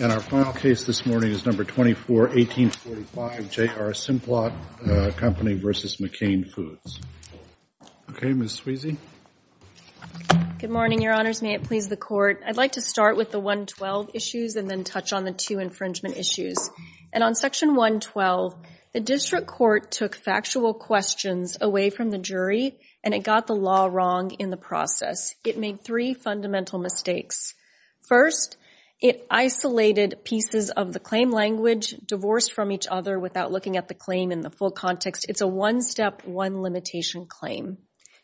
And our final case this morning is No. 24-1845, J.R. Simplot Co. v. McCain Foods. Okay, Ms. Sweezy. Good morning, Your Honors. May it please the Court. I'd like to start with the 112 issues and then touch on the two infringement issues. And on Section 112, the District Court took factual questions away from the jury, and it got the law wrong in the process. It made three fundamental mistakes. First, it isolated pieces of the claim language, divorced from each other without looking at the claim in the full context. It's a one-step, one-limitation claim.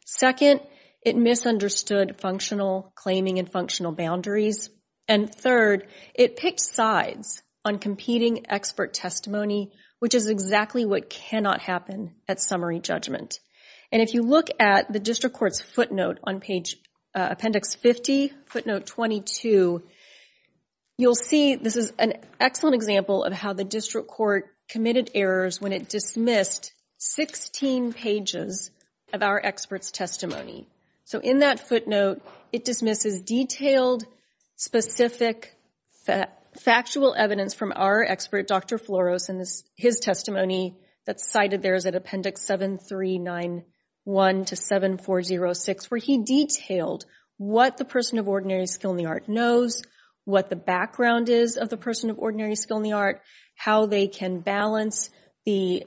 Second, it misunderstood functional claiming and functional boundaries. And third, it picked sides on competing expert testimony, which is exactly what cannot happen at summary judgment. And if you look at the District Court's footnote on appendix 50, footnote 22, you'll see this is an excellent example of how the District Court committed errors when it dismissed 16 pages of our expert's testimony. So in that footnote, it dismisses detailed, specific, factual evidence from our expert, Dr. Floros, and his testimony that's cited there is at appendix 7391 to 7406, where he detailed what the person of ordinary skill in the art knows, what the background is of the person of ordinary skill in the art, how they can balance the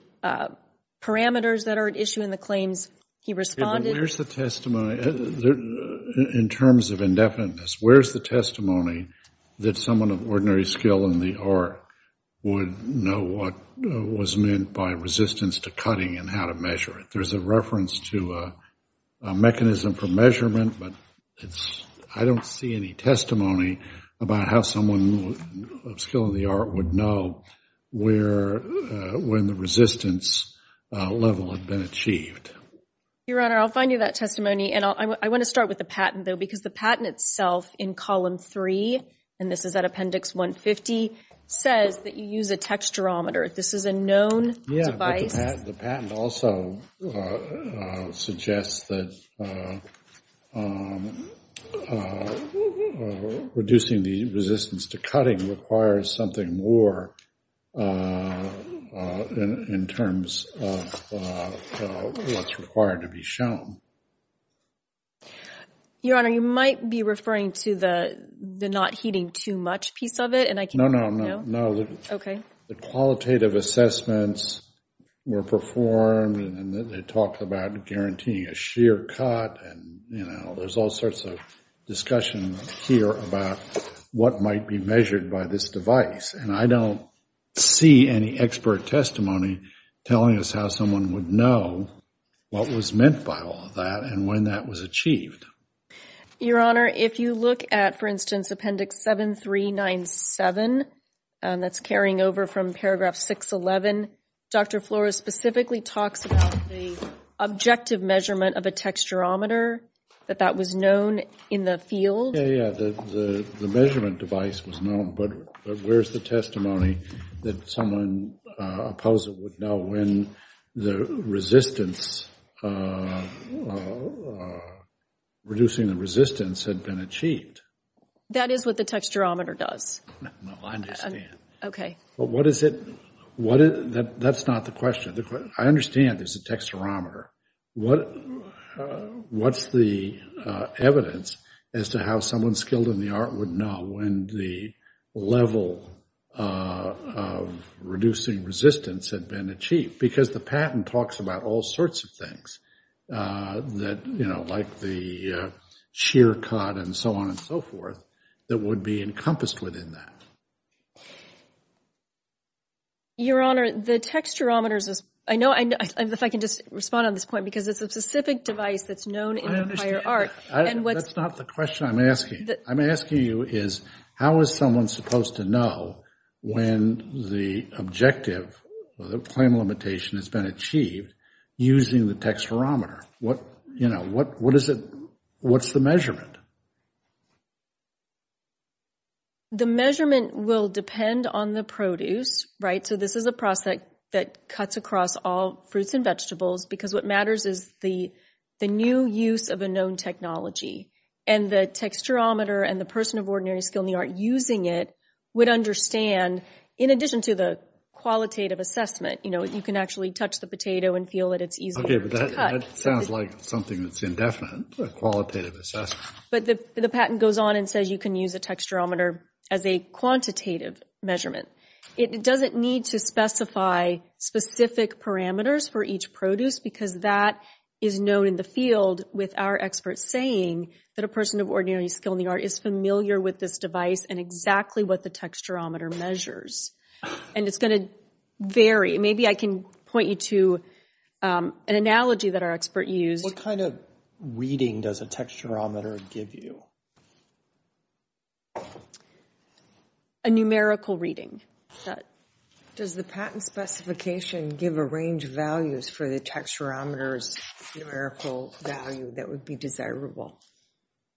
parameters that are at issue in the claims he responded to. In terms of indefiniteness, where's the testimony that someone of ordinary skill in the art would know what was meant by resistance to cutting and how to measure it? There's a reference to a mechanism for measurement, but I don't see any testimony about how someone of skill in the art would know when the resistance level had been achieved. Your Honor, I'll find you that testimony. And I want to start with the patent, though, because the patent itself in column 3, and this is at appendix 150, says that you use a texturometer. This is a known device. The patent also suggests that reducing the resistance to cutting requires something more in terms of what's required to be shown. Your Honor, you might be referring to the not heating too much piece of it. No, no, no. The qualitative assessments were performed, and they talked about guaranteeing a sheer cut, and, you know, there's all sorts of discussion here about what might be measured by this device. And I don't see any expert testimony telling us how someone would know what was meant by all of that and when that was achieved. Your Honor, if you look at, for instance, appendix 7397, that's carrying over from paragraph 611, Dr. Flores specifically talks about the objective measurement of a texturometer, that that was known in the field. Okay, yeah, the measurement device was known, but where's the testimony that someone opposing would know when the resistance, reducing the resistance had been achieved? That is what the texturometer does. No, I understand. Okay. But what is it, that's not the question. I understand there's a texturometer. What's the evidence as to how someone skilled in the art would know when the level of reducing resistance had been achieved? Because the patent talks about all sorts of things that, you know, like the sheer cut and so on and so forth, that would be encompassed within that. Your Honor, the texturometer is, I know, if I can just respond on this point, because it's a specific device that's known in the prior art. I understand that. That's not the question I'm asking. I'm asking you is how is someone supposed to know when the objective or the claim limitation has been achieved using the texturometer? What, you know, what is it, what's the measurement? The measurement will depend on the produce, right? So this is a process that cuts across all fruits and vegetables because what matters is the new use of a known technology. And the texturometer and the person of ordinary skill in the art using it would understand, in addition to the qualitative assessment, you know, you can actually touch the potato and feel that it's easier to cut. Okay, but that sounds like something that's indefinite, a qualitative assessment. But the patent goes on and says you can use a texturometer as a quantitative measurement. It doesn't need to specify specific parameters for each produce because that is known in the field, with our experts saying that a person of ordinary skill in the art is familiar with this device and exactly what the texturometer measures. And it's going to vary. Maybe I can point you to an analogy that our expert used. What kind of reading does a texturometer give you? A numerical reading. Does the patent specification give a range of values for the texturometer's numerical value that would be desirable?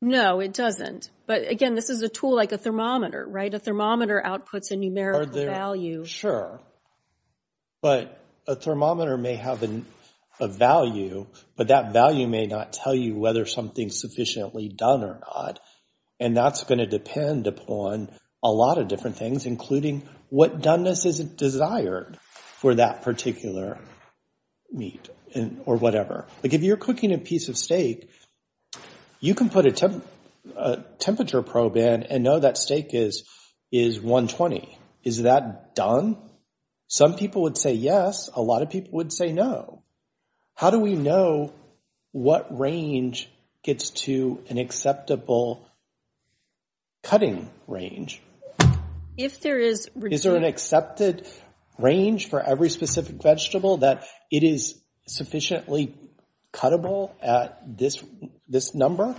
No, it doesn't. But, again, this is a tool like a thermometer, right? A thermometer outputs a numerical value. Sure, but a thermometer may have a value, but that value may not tell you whether something's sufficiently done or not. And that's going to depend upon a lot of different things, including what doneness is desired for that particular meat or whatever. Like if you're cooking a piece of steak, you can put a temperature probe in and know that steak is 120. Is that done? Some people would say yes. A lot of people would say no. How do we know what range gets to an acceptable cutting range? Is there an accepted range for every specific vegetable that it is sufficiently cuttable at this number?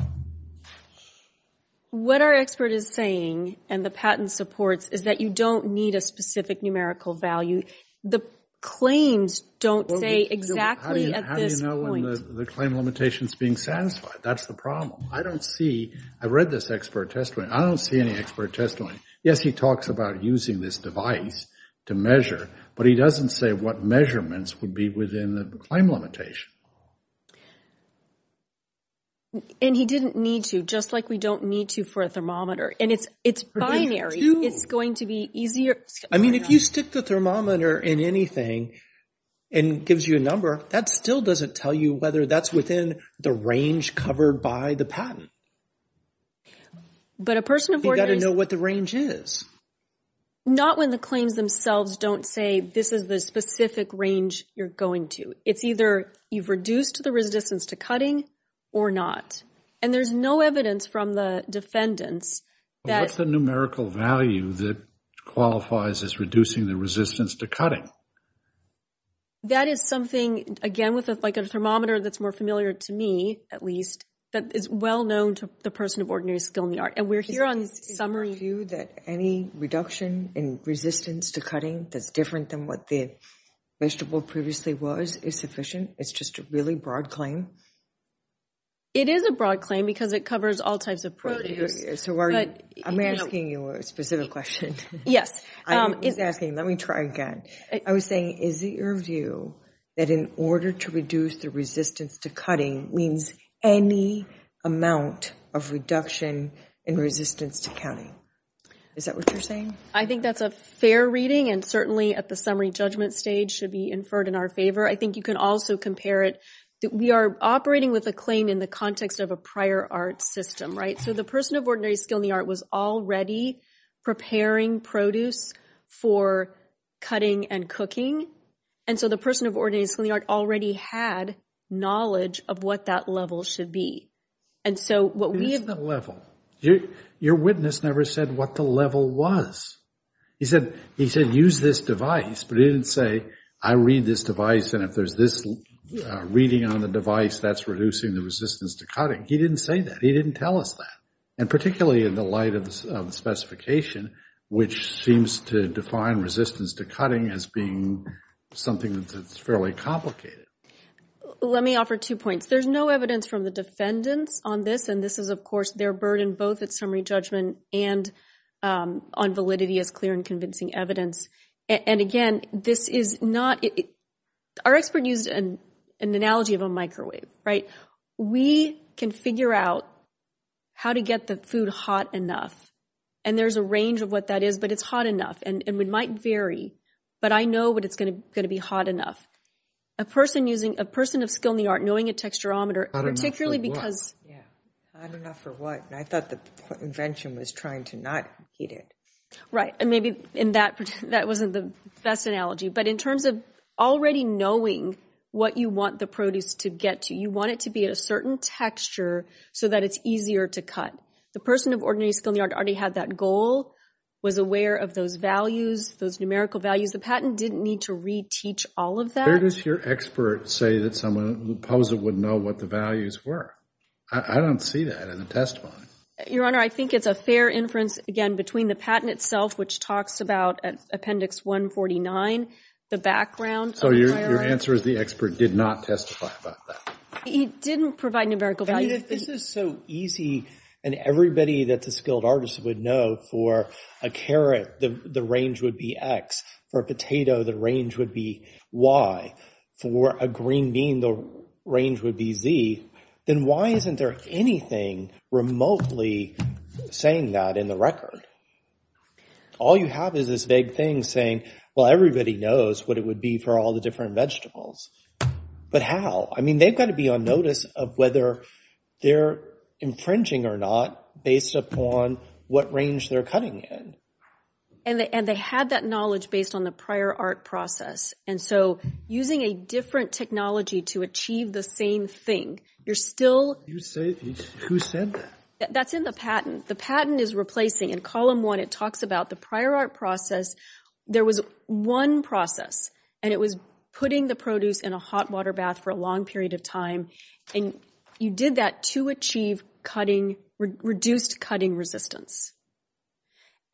What our expert is saying, and the patent supports, is that you don't need a specific numerical value. The claims don't say exactly at this point. How do you know when the claim limitation is being satisfied? That's the problem. I don't see. I read this expert testimony. I don't see any expert testimony. Yes, he talks about using this device to measure, but he doesn't say what measurements would be within the claim limitation. And he didn't need to, just like we don't need to for a thermometer. And it's binary. It's going to be easier. I mean, if you stick the thermometer in anything and it gives you a number, that still doesn't tell you whether that's within the range covered by the patent. But a person of ordinary... You've got to know what the range is. Not when the claims themselves don't say this is the specific range you're going to. It's either you've reduced the resistance to cutting or not. And there's no evidence from the defendants that... What's the numerical value that qualifies as reducing the resistance to cutting? That is something, again, with like a thermometer that's more familiar to me, at least, that is well known to the person of ordinary skill in the art. And we're here on summary... Is it your view that any reduction in resistance to cutting that's different than what the vegetable previously was is sufficient? It's just a really broad claim? It is a broad claim because it covers all types of produce. So are you... I'm asking you a specific question. Yes. I was asking, let me try again. I was saying, is it your view that in order to reduce the resistance to cutting means any amount of reduction in resistance to cutting? Is that what you're saying? I think that's a fair reading and certainly at the summary judgment stage should be inferred in our favor. I think you can also compare it... We are operating with a claim in the context of a prior art system, right? So the person of ordinary skill in the art was already preparing produce for cutting and cooking. And so the person of ordinary skill in the art already had knowledge of what that level should be. And so what we... What is the level? Your witness never said what the level was. He said, use this device, but he didn't say, I read this device and if there's this reading on the device, that's reducing the resistance to cutting. He didn't say that. He didn't tell us that. And particularly in the light of the specification, which seems to define resistance to cutting as being something that's fairly complicated. Let me offer two points. There's no evidence from the defendants on this, and this is, of course, their burden both at summary judgment and on validity as clear and convincing evidence. And again, this is not... Our expert used an analogy of a microwave, right? We can figure out how to get the food hot enough. And there's a range of what that is, but it's hot enough. And it might vary, but I know when it's going to be hot enough. A person using... A person of skill in the art knowing a texturometer, particularly because... Yeah. Hot enough for what? And I thought the invention was trying to not heat it. Right. And maybe in that... That wasn't the best analogy. But in terms of already knowing what you want the produce to get to, you want it to be at a certain texture so that it's easier to cut. The person of ordinary skill in the art already had that goal, was aware of those values, those numerical values. The patent didn't need to reteach all of that. Where does your expert say that someone who posed it would know what the values were? I don't see that in the testimony. Your Honor, I think it's a fair inference, again, between the patent itself, which talks about Appendix 149, the background... So your answer is the expert did not testify about that? He didn't provide numerical values. I mean, if this is so easy and everybody that's a skilled artist would know, for a carrot, the range would be X. For a potato, the range would be Y. For a green bean, the range would be Z. Then why isn't there anything remotely saying that in the record? All you have is this vague thing saying, well, everybody knows what it would be for all the different vegetables. But how? I mean, they've got to be on notice of whether they're infringing or not based upon what range they're cutting in. And they had that knowledge based on the prior art process. And so using a different technology to achieve the same thing, you're still... Who said that? That's in the patent. The patent is replacing. In Column 1, it talks about the prior art process. There was one process, and it was putting the produce in a hot water bath for a long period of time. And you did that to achieve reduced cutting resistance.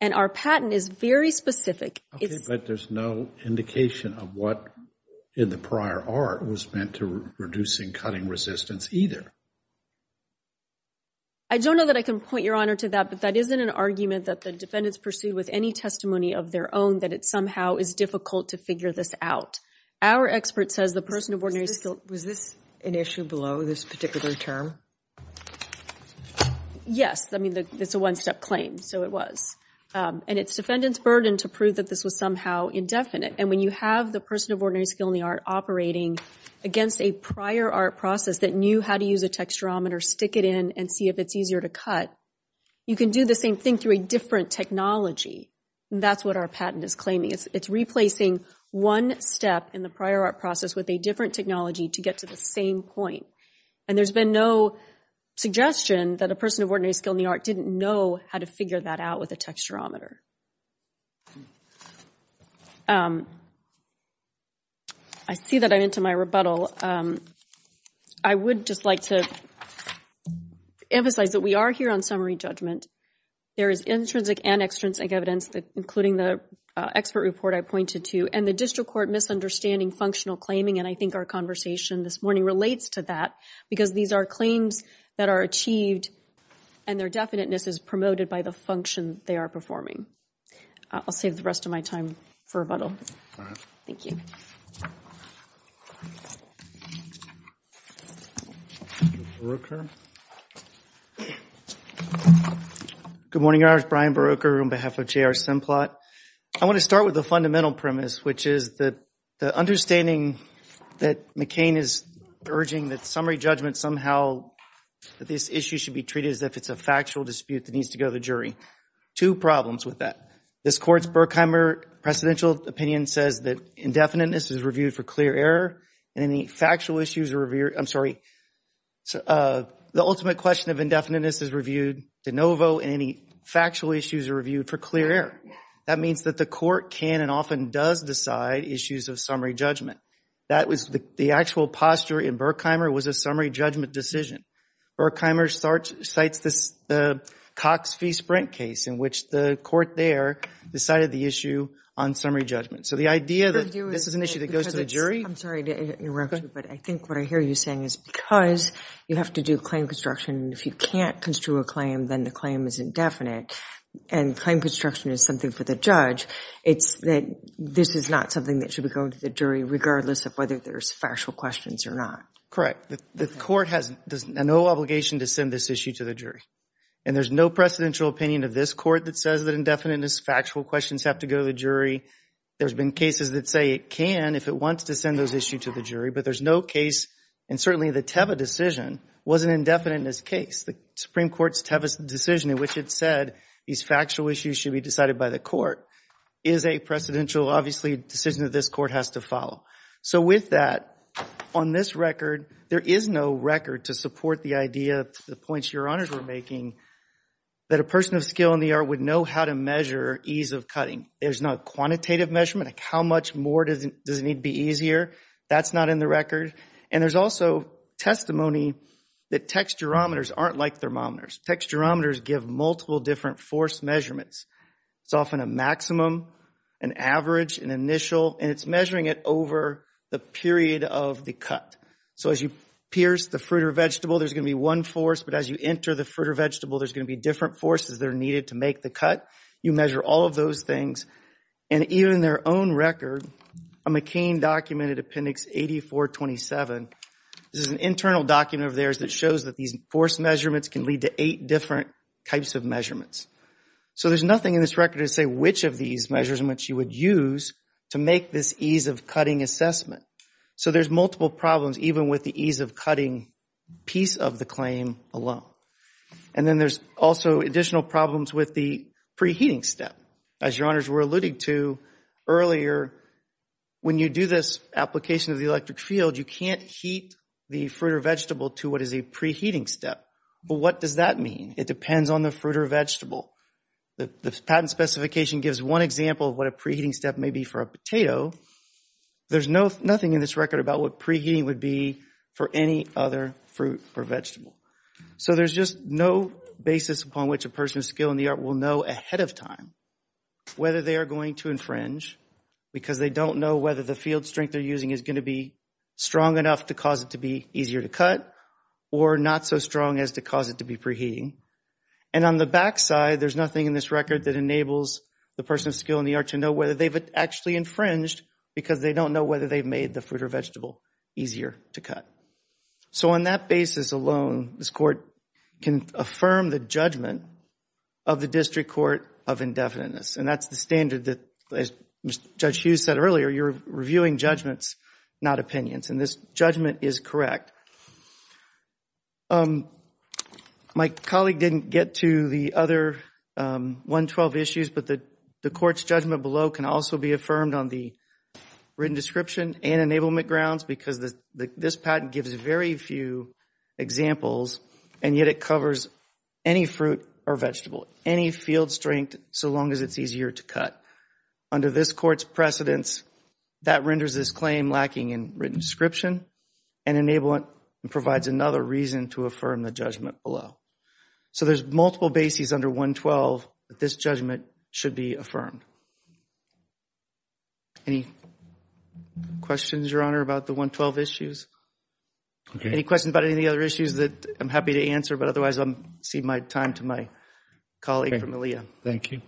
And our patent is very specific. Okay, but there's no indication of what in the prior art was meant to reducing cutting resistance either. I don't know that I can point Your Honor to that, but that isn't an argument that the defendants pursued with any testimony of their own that it somehow is difficult to figure this out. Our expert says the person of ordinary skill... Was this an issue below this particular term? Yes. I mean, it's a one-step claim, so it was. And it's defendant's burden to prove that this was somehow indefinite. And when you have the person of ordinary skill in the art operating against a prior art process that knew how to use a texturometer, stick it in, and see if it's easier to cut, you can do the same thing through a different technology. That's what our patent is claiming. It's replacing one step in the prior art process with a different technology to get to the same point. And there's been no suggestion that a person of ordinary skill in the art didn't know how to figure that out with a texturometer. I see that I'm into my rebuttal. I would just like to emphasize that we are here on summary judgment. There is intrinsic and extrinsic evidence, including the expert report I pointed to, and the district court misunderstanding functional claiming. And I think our conversation this morning relates to that because these are claims that are achieved and their definiteness is promoted by the function they are performing. I'll save the rest of my time for rebuttal. Thank you. Good morning. I'm Brian Beroker on behalf of J.R. Simplot. I want to start with the fundamental premise, which is that the understanding that McCain is urging that summary judgment somehow, that this issue should be treated as if it's a factual dispute that needs to go to the jury. Two problems with that. This court's Berkheimer presidential opinion says that indefiniteness is reviewed for clear error, and any factual issues are reviewed. I'm sorry. The ultimate question of indefiniteness is reviewed de novo, and any factual issues are reviewed for clear error. That means that the court can and often does decide issues of summary judgment. The actual posture in Berkheimer was a summary judgment decision. Berkheimer cites the Cox v. Sprint case in which the court there decided the issue on summary judgment. So the idea that this is an issue that goes to the jury? I'm sorry to interrupt you, but I think what I hear you saying is because you have to do claim construction, if you can't construe a claim, then the claim is indefinite, and claim construction is something for the judge, it's that this is not something that should be going to the jury regardless of whether there's factual questions or not. Correct. The court has no obligation to send this issue to the jury, and there's no presidential opinion of this court that says that indefiniteness factual questions have to go to the jury. There's been cases that say it can if it wants to send those issues to the jury, but there's no case, and certainly the Teva decision wasn't indefinite in this case. The Supreme Court's Teva decision in which it said these factual issues should be decided by the court is a precedential, obviously, decision that this court has to follow. So with that, on this record, there is no record to support the idea, the points your honors were making, that a person of skill in the art would know how to measure ease of cutting. There's no quantitative measurement, like how much more does it need to be easier? That's not in the record. And there's also testimony that texturometers aren't like thermometers. Texturometers give multiple different force measurements. It's often a maximum, an average, an initial, and it's measuring it over the period of the cut. So as you pierce the fruit or vegetable, there's going to be one force, but as you enter the fruit or vegetable, there's going to be different forces that are needed to make the cut. You measure all of those things. And even in their own record, a McCain documented appendix 8427, this is an internal document of theirs that shows that these force measurements can lead to eight different types of measurements. So there's nothing in this record to say which of these measurements you would use to make this ease of cutting assessment. So there's multiple problems, even with the ease of cutting piece of the claim alone. And then there's also additional problems with the preheating step. As your honors were alluding to earlier, when you do this application of the electric field, you can't heat the fruit or vegetable to what is a preheating step. But what does that mean? It depends on the fruit or vegetable. The patent specification gives one example of what a preheating step may be for a potato. There's nothing in this record about what preheating would be for any other fruit or vegetable. So there's just no basis upon which a person of skill in the art will know ahead of time whether they are going to infringe because they don't know whether the field strength they're using is going to be strong enough to cause it to be easier to cut or not so strong as to cause it to be preheating. And on the back side, there's nothing in this record that enables the person of skill in the art to know whether they've actually infringed because they don't know whether they've made the fruit or vegetable easier to cut. So on that basis alone, this court can affirm the judgment of the District Court of indefiniteness. And that's the standard that, as Judge Hughes said earlier, you're reviewing judgments, not opinions. And this judgment is correct. My colleague didn't get to the other 112 issues, but the court's judgment below can also be affirmed on the written description and enablement grounds because this patent gives very few examples, and yet it covers any fruit or vegetable, any field strength so long as it's easier to cut. Under this court's precedence, that renders this claim lacking in written description and provides another reason to affirm the judgment below. So there's multiple bases under 112 that this judgment should be affirmed. Any questions, Your Honor, about the 112 issues? Any questions about any of the other issues that I'm happy to answer? But otherwise, I'll cede my time to my colleague from ALEA. Thank you.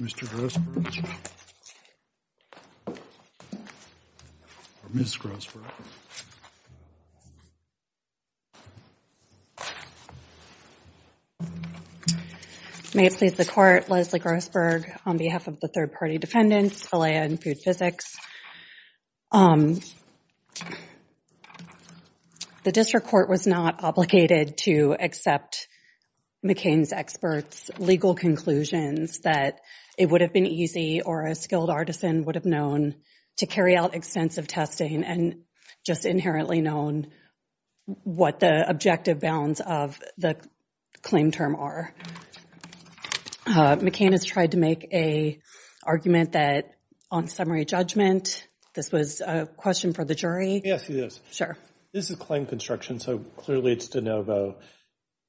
Mr. Grossberg. Ms. Grossberg. May it please the Court, Leslie Grossberg on behalf of the third-party defendants, ALEA and Food Physics. The district court was not obligated to accept McCain's experts' legal conclusions that it would have been easy or a skilled artisan would have known to carry out extensive testing and just inherently known what the objective bounds of the claim term are. McCain has tried to make an argument that on summary judgment, this was a question for the jury. Yes, it is. Sure. This is claim construction, so clearly it's de novo.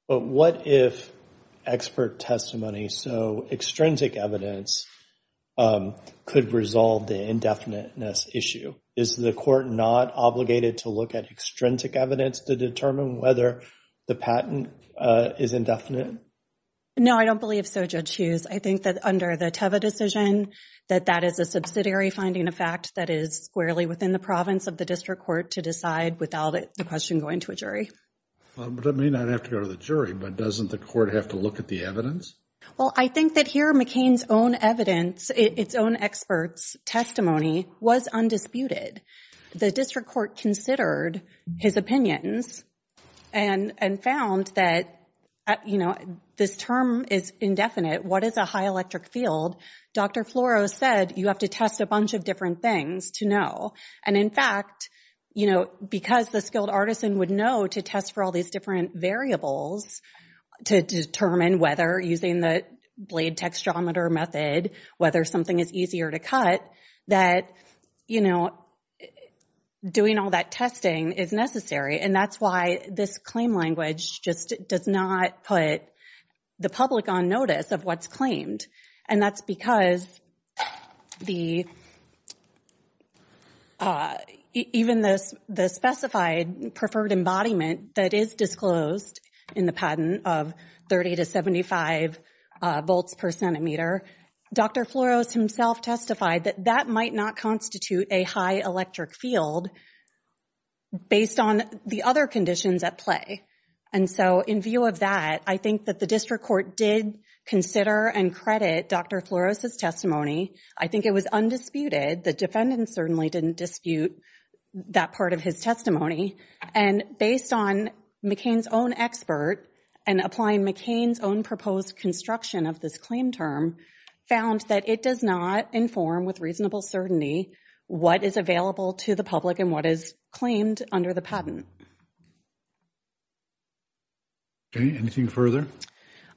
But what if expert testimony, so extrinsic evidence, could resolve the indefiniteness issue? Is the court not obligated to look at extrinsic evidence to determine whether the patent is indefinite? No, I don't believe so, Judge Hughes. I think that under the Teva decision, that that is a subsidiary finding, a fact that is squarely within the province of the district court to decide without the question going to a jury. But it may not have to go to the jury, but doesn't the court have to look at the evidence? Well, I think that here McCain's own evidence, its own experts' testimony was undisputed. The district court considered his opinions and found that this term is indefinite. What is a high electric field? Dr. Floro said you have to test a bunch of different things to know. And in fact, because the skilled artisan would know to test for all these different variables to determine whether using the blade textometer method, whether something is easier to cut, that doing all that testing is necessary. And that's why this claim language just does not put the public on notice of what's claimed. And that's because even the specified preferred embodiment that is disclosed in the patent of 30 to 75 volts per centimeter, Dr. Floros himself testified that that might not constitute a high electric field based on the other conditions at play. And so in view of that, I think that the district court did consider and credit Dr. Floros' testimony. I think it was undisputed. The defendant certainly didn't dispute that part of his testimony. And based on McCain's own expert and applying McCain's own proposed construction of this claim term, found that it does not inform with reasonable certainty what is available to the public and what is claimed under the patent. Anything further?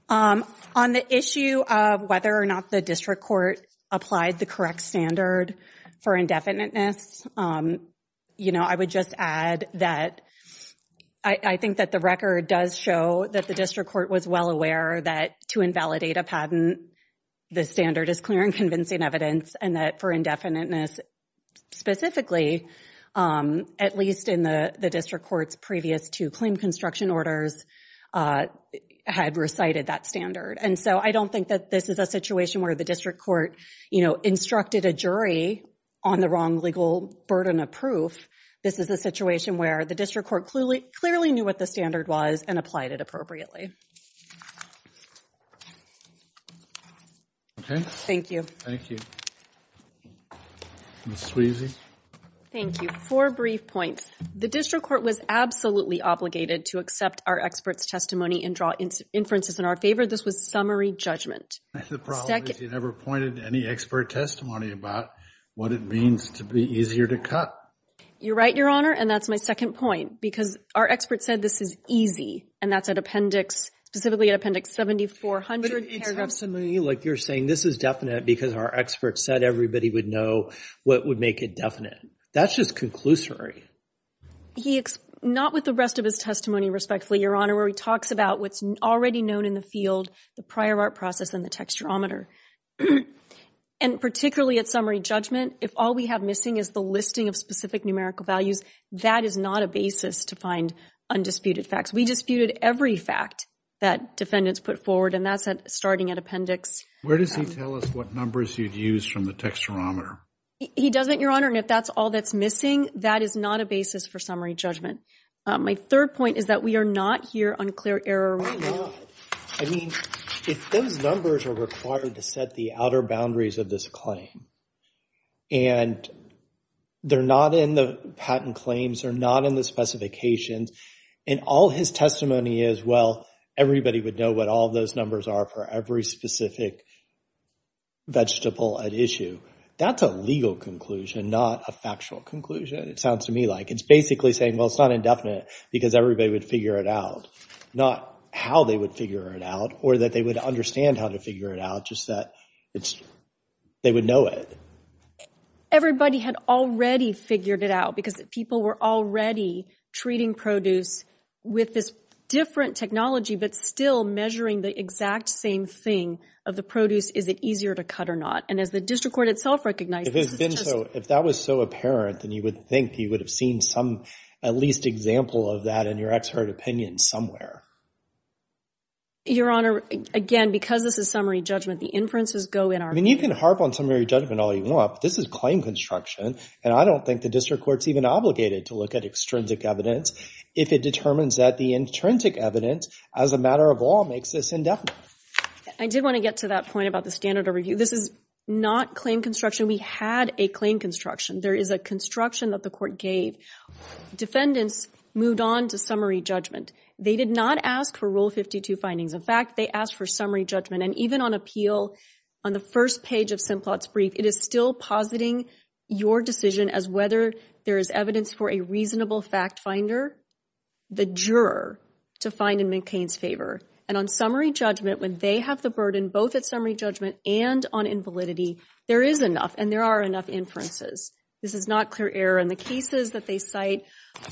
On the issue of whether or not the district court applied the correct standard for indefiniteness, I would just add that I think that the record does show that the district court was well aware that to invalidate a patent, the standard is clear and convincing evidence and that for indefiniteness specifically, at least in the district court's previous two claim construction orders, had recited that standard. And so I don't think that this is a situation where the district court instructed a jury on the wrong legal burden of proof. This is a situation where the district court clearly knew what the standard was and applied it appropriately. Thank you. Thank you. Ms. Sweezy? Thank you. Four brief points. The district court was absolutely obligated to accept our experts' testimony and draw inferences in our favor. This was summary judgment. The problem is you never pointed to any expert testimony about what it means to be easier to cut. You're right, Your Honor, and that's my second point. Because our experts said this is easy, and that's at appendix, specifically at appendix 7400. But it's not simply like you're saying this is definite because our experts said everybody would know what would make it definite. That's just conclusory. Not with the rest of his testimony, respectfully, Your Honor, where he talks about what's already known in the field, the prior art process and the texturometer. And particularly at summary judgment, if all we have missing is the listing of specific numerical values, that is not a basis to find undisputed facts. We disputed every fact that defendants put forward, and that's starting at appendix. Where does he tell us what numbers you'd use from the texturometer? He doesn't, Your Honor, and if that's all that's missing, that is not a basis for summary judgment. My third point is that we are not here on clear error. Why not? I mean, if those numbers are required to set the outer boundaries of this claim, and they're not in the patent claims, they're not in the specifications, and all his testimony is, well, everybody would know what all those numbers are for every specific vegetable at issue, that's a legal conclusion, not a factual conclusion, it sounds to me like. It's basically saying, well, it's not indefinite because everybody would figure it out, not how they would figure it out or that they would understand how to figure it out, just that they would know it. Everybody had already figured it out because people were already treating produce with this different technology but still measuring the exact same thing of the produce, is it easier to cut or not. And as the district court itself recognizes, it's just. If that was so apparent, then you would think you would have seen some, at least example of that in your expert opinion somewhere. Your Honor, again, because this is summary judgment, the inferences go in our favor. I mean, you can harp on summary judgment all you want, but this is claim construction, and I don't think the district court's even obligated to look at extrinsic evidence if it determines that the intrinsic evidence as a matter of law makes this indefinite. I did want to get to that point about the standard of review. This is not claim construction. We had a claim construction. There is a construction that the court gave. Defendants moved on to summary judgment. They did not ask for Rule 52 findings. In fact, they asked for summary judgment, and even on appeal, on the first page of Simplot's brief, it is still positing your decision as whether there is evidence for a reasonable fact finder, the juror, to find in McCain's favor. And on summary judgment, when they have the burden both at summary judgment and on invalidity, there is enough, and there are enough inferences. This is not clear error, and the cases that they cite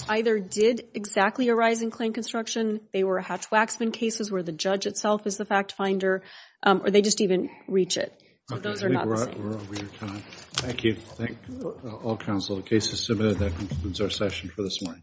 either did exactly arise in claim construction. They were Hatch-Waxman cases where the judge itself is the fact finder, or they just even reach it. So those are not the same. We're over your time. Thank you. Thank all counsel. The case is submitted. That concludes our session for this morning.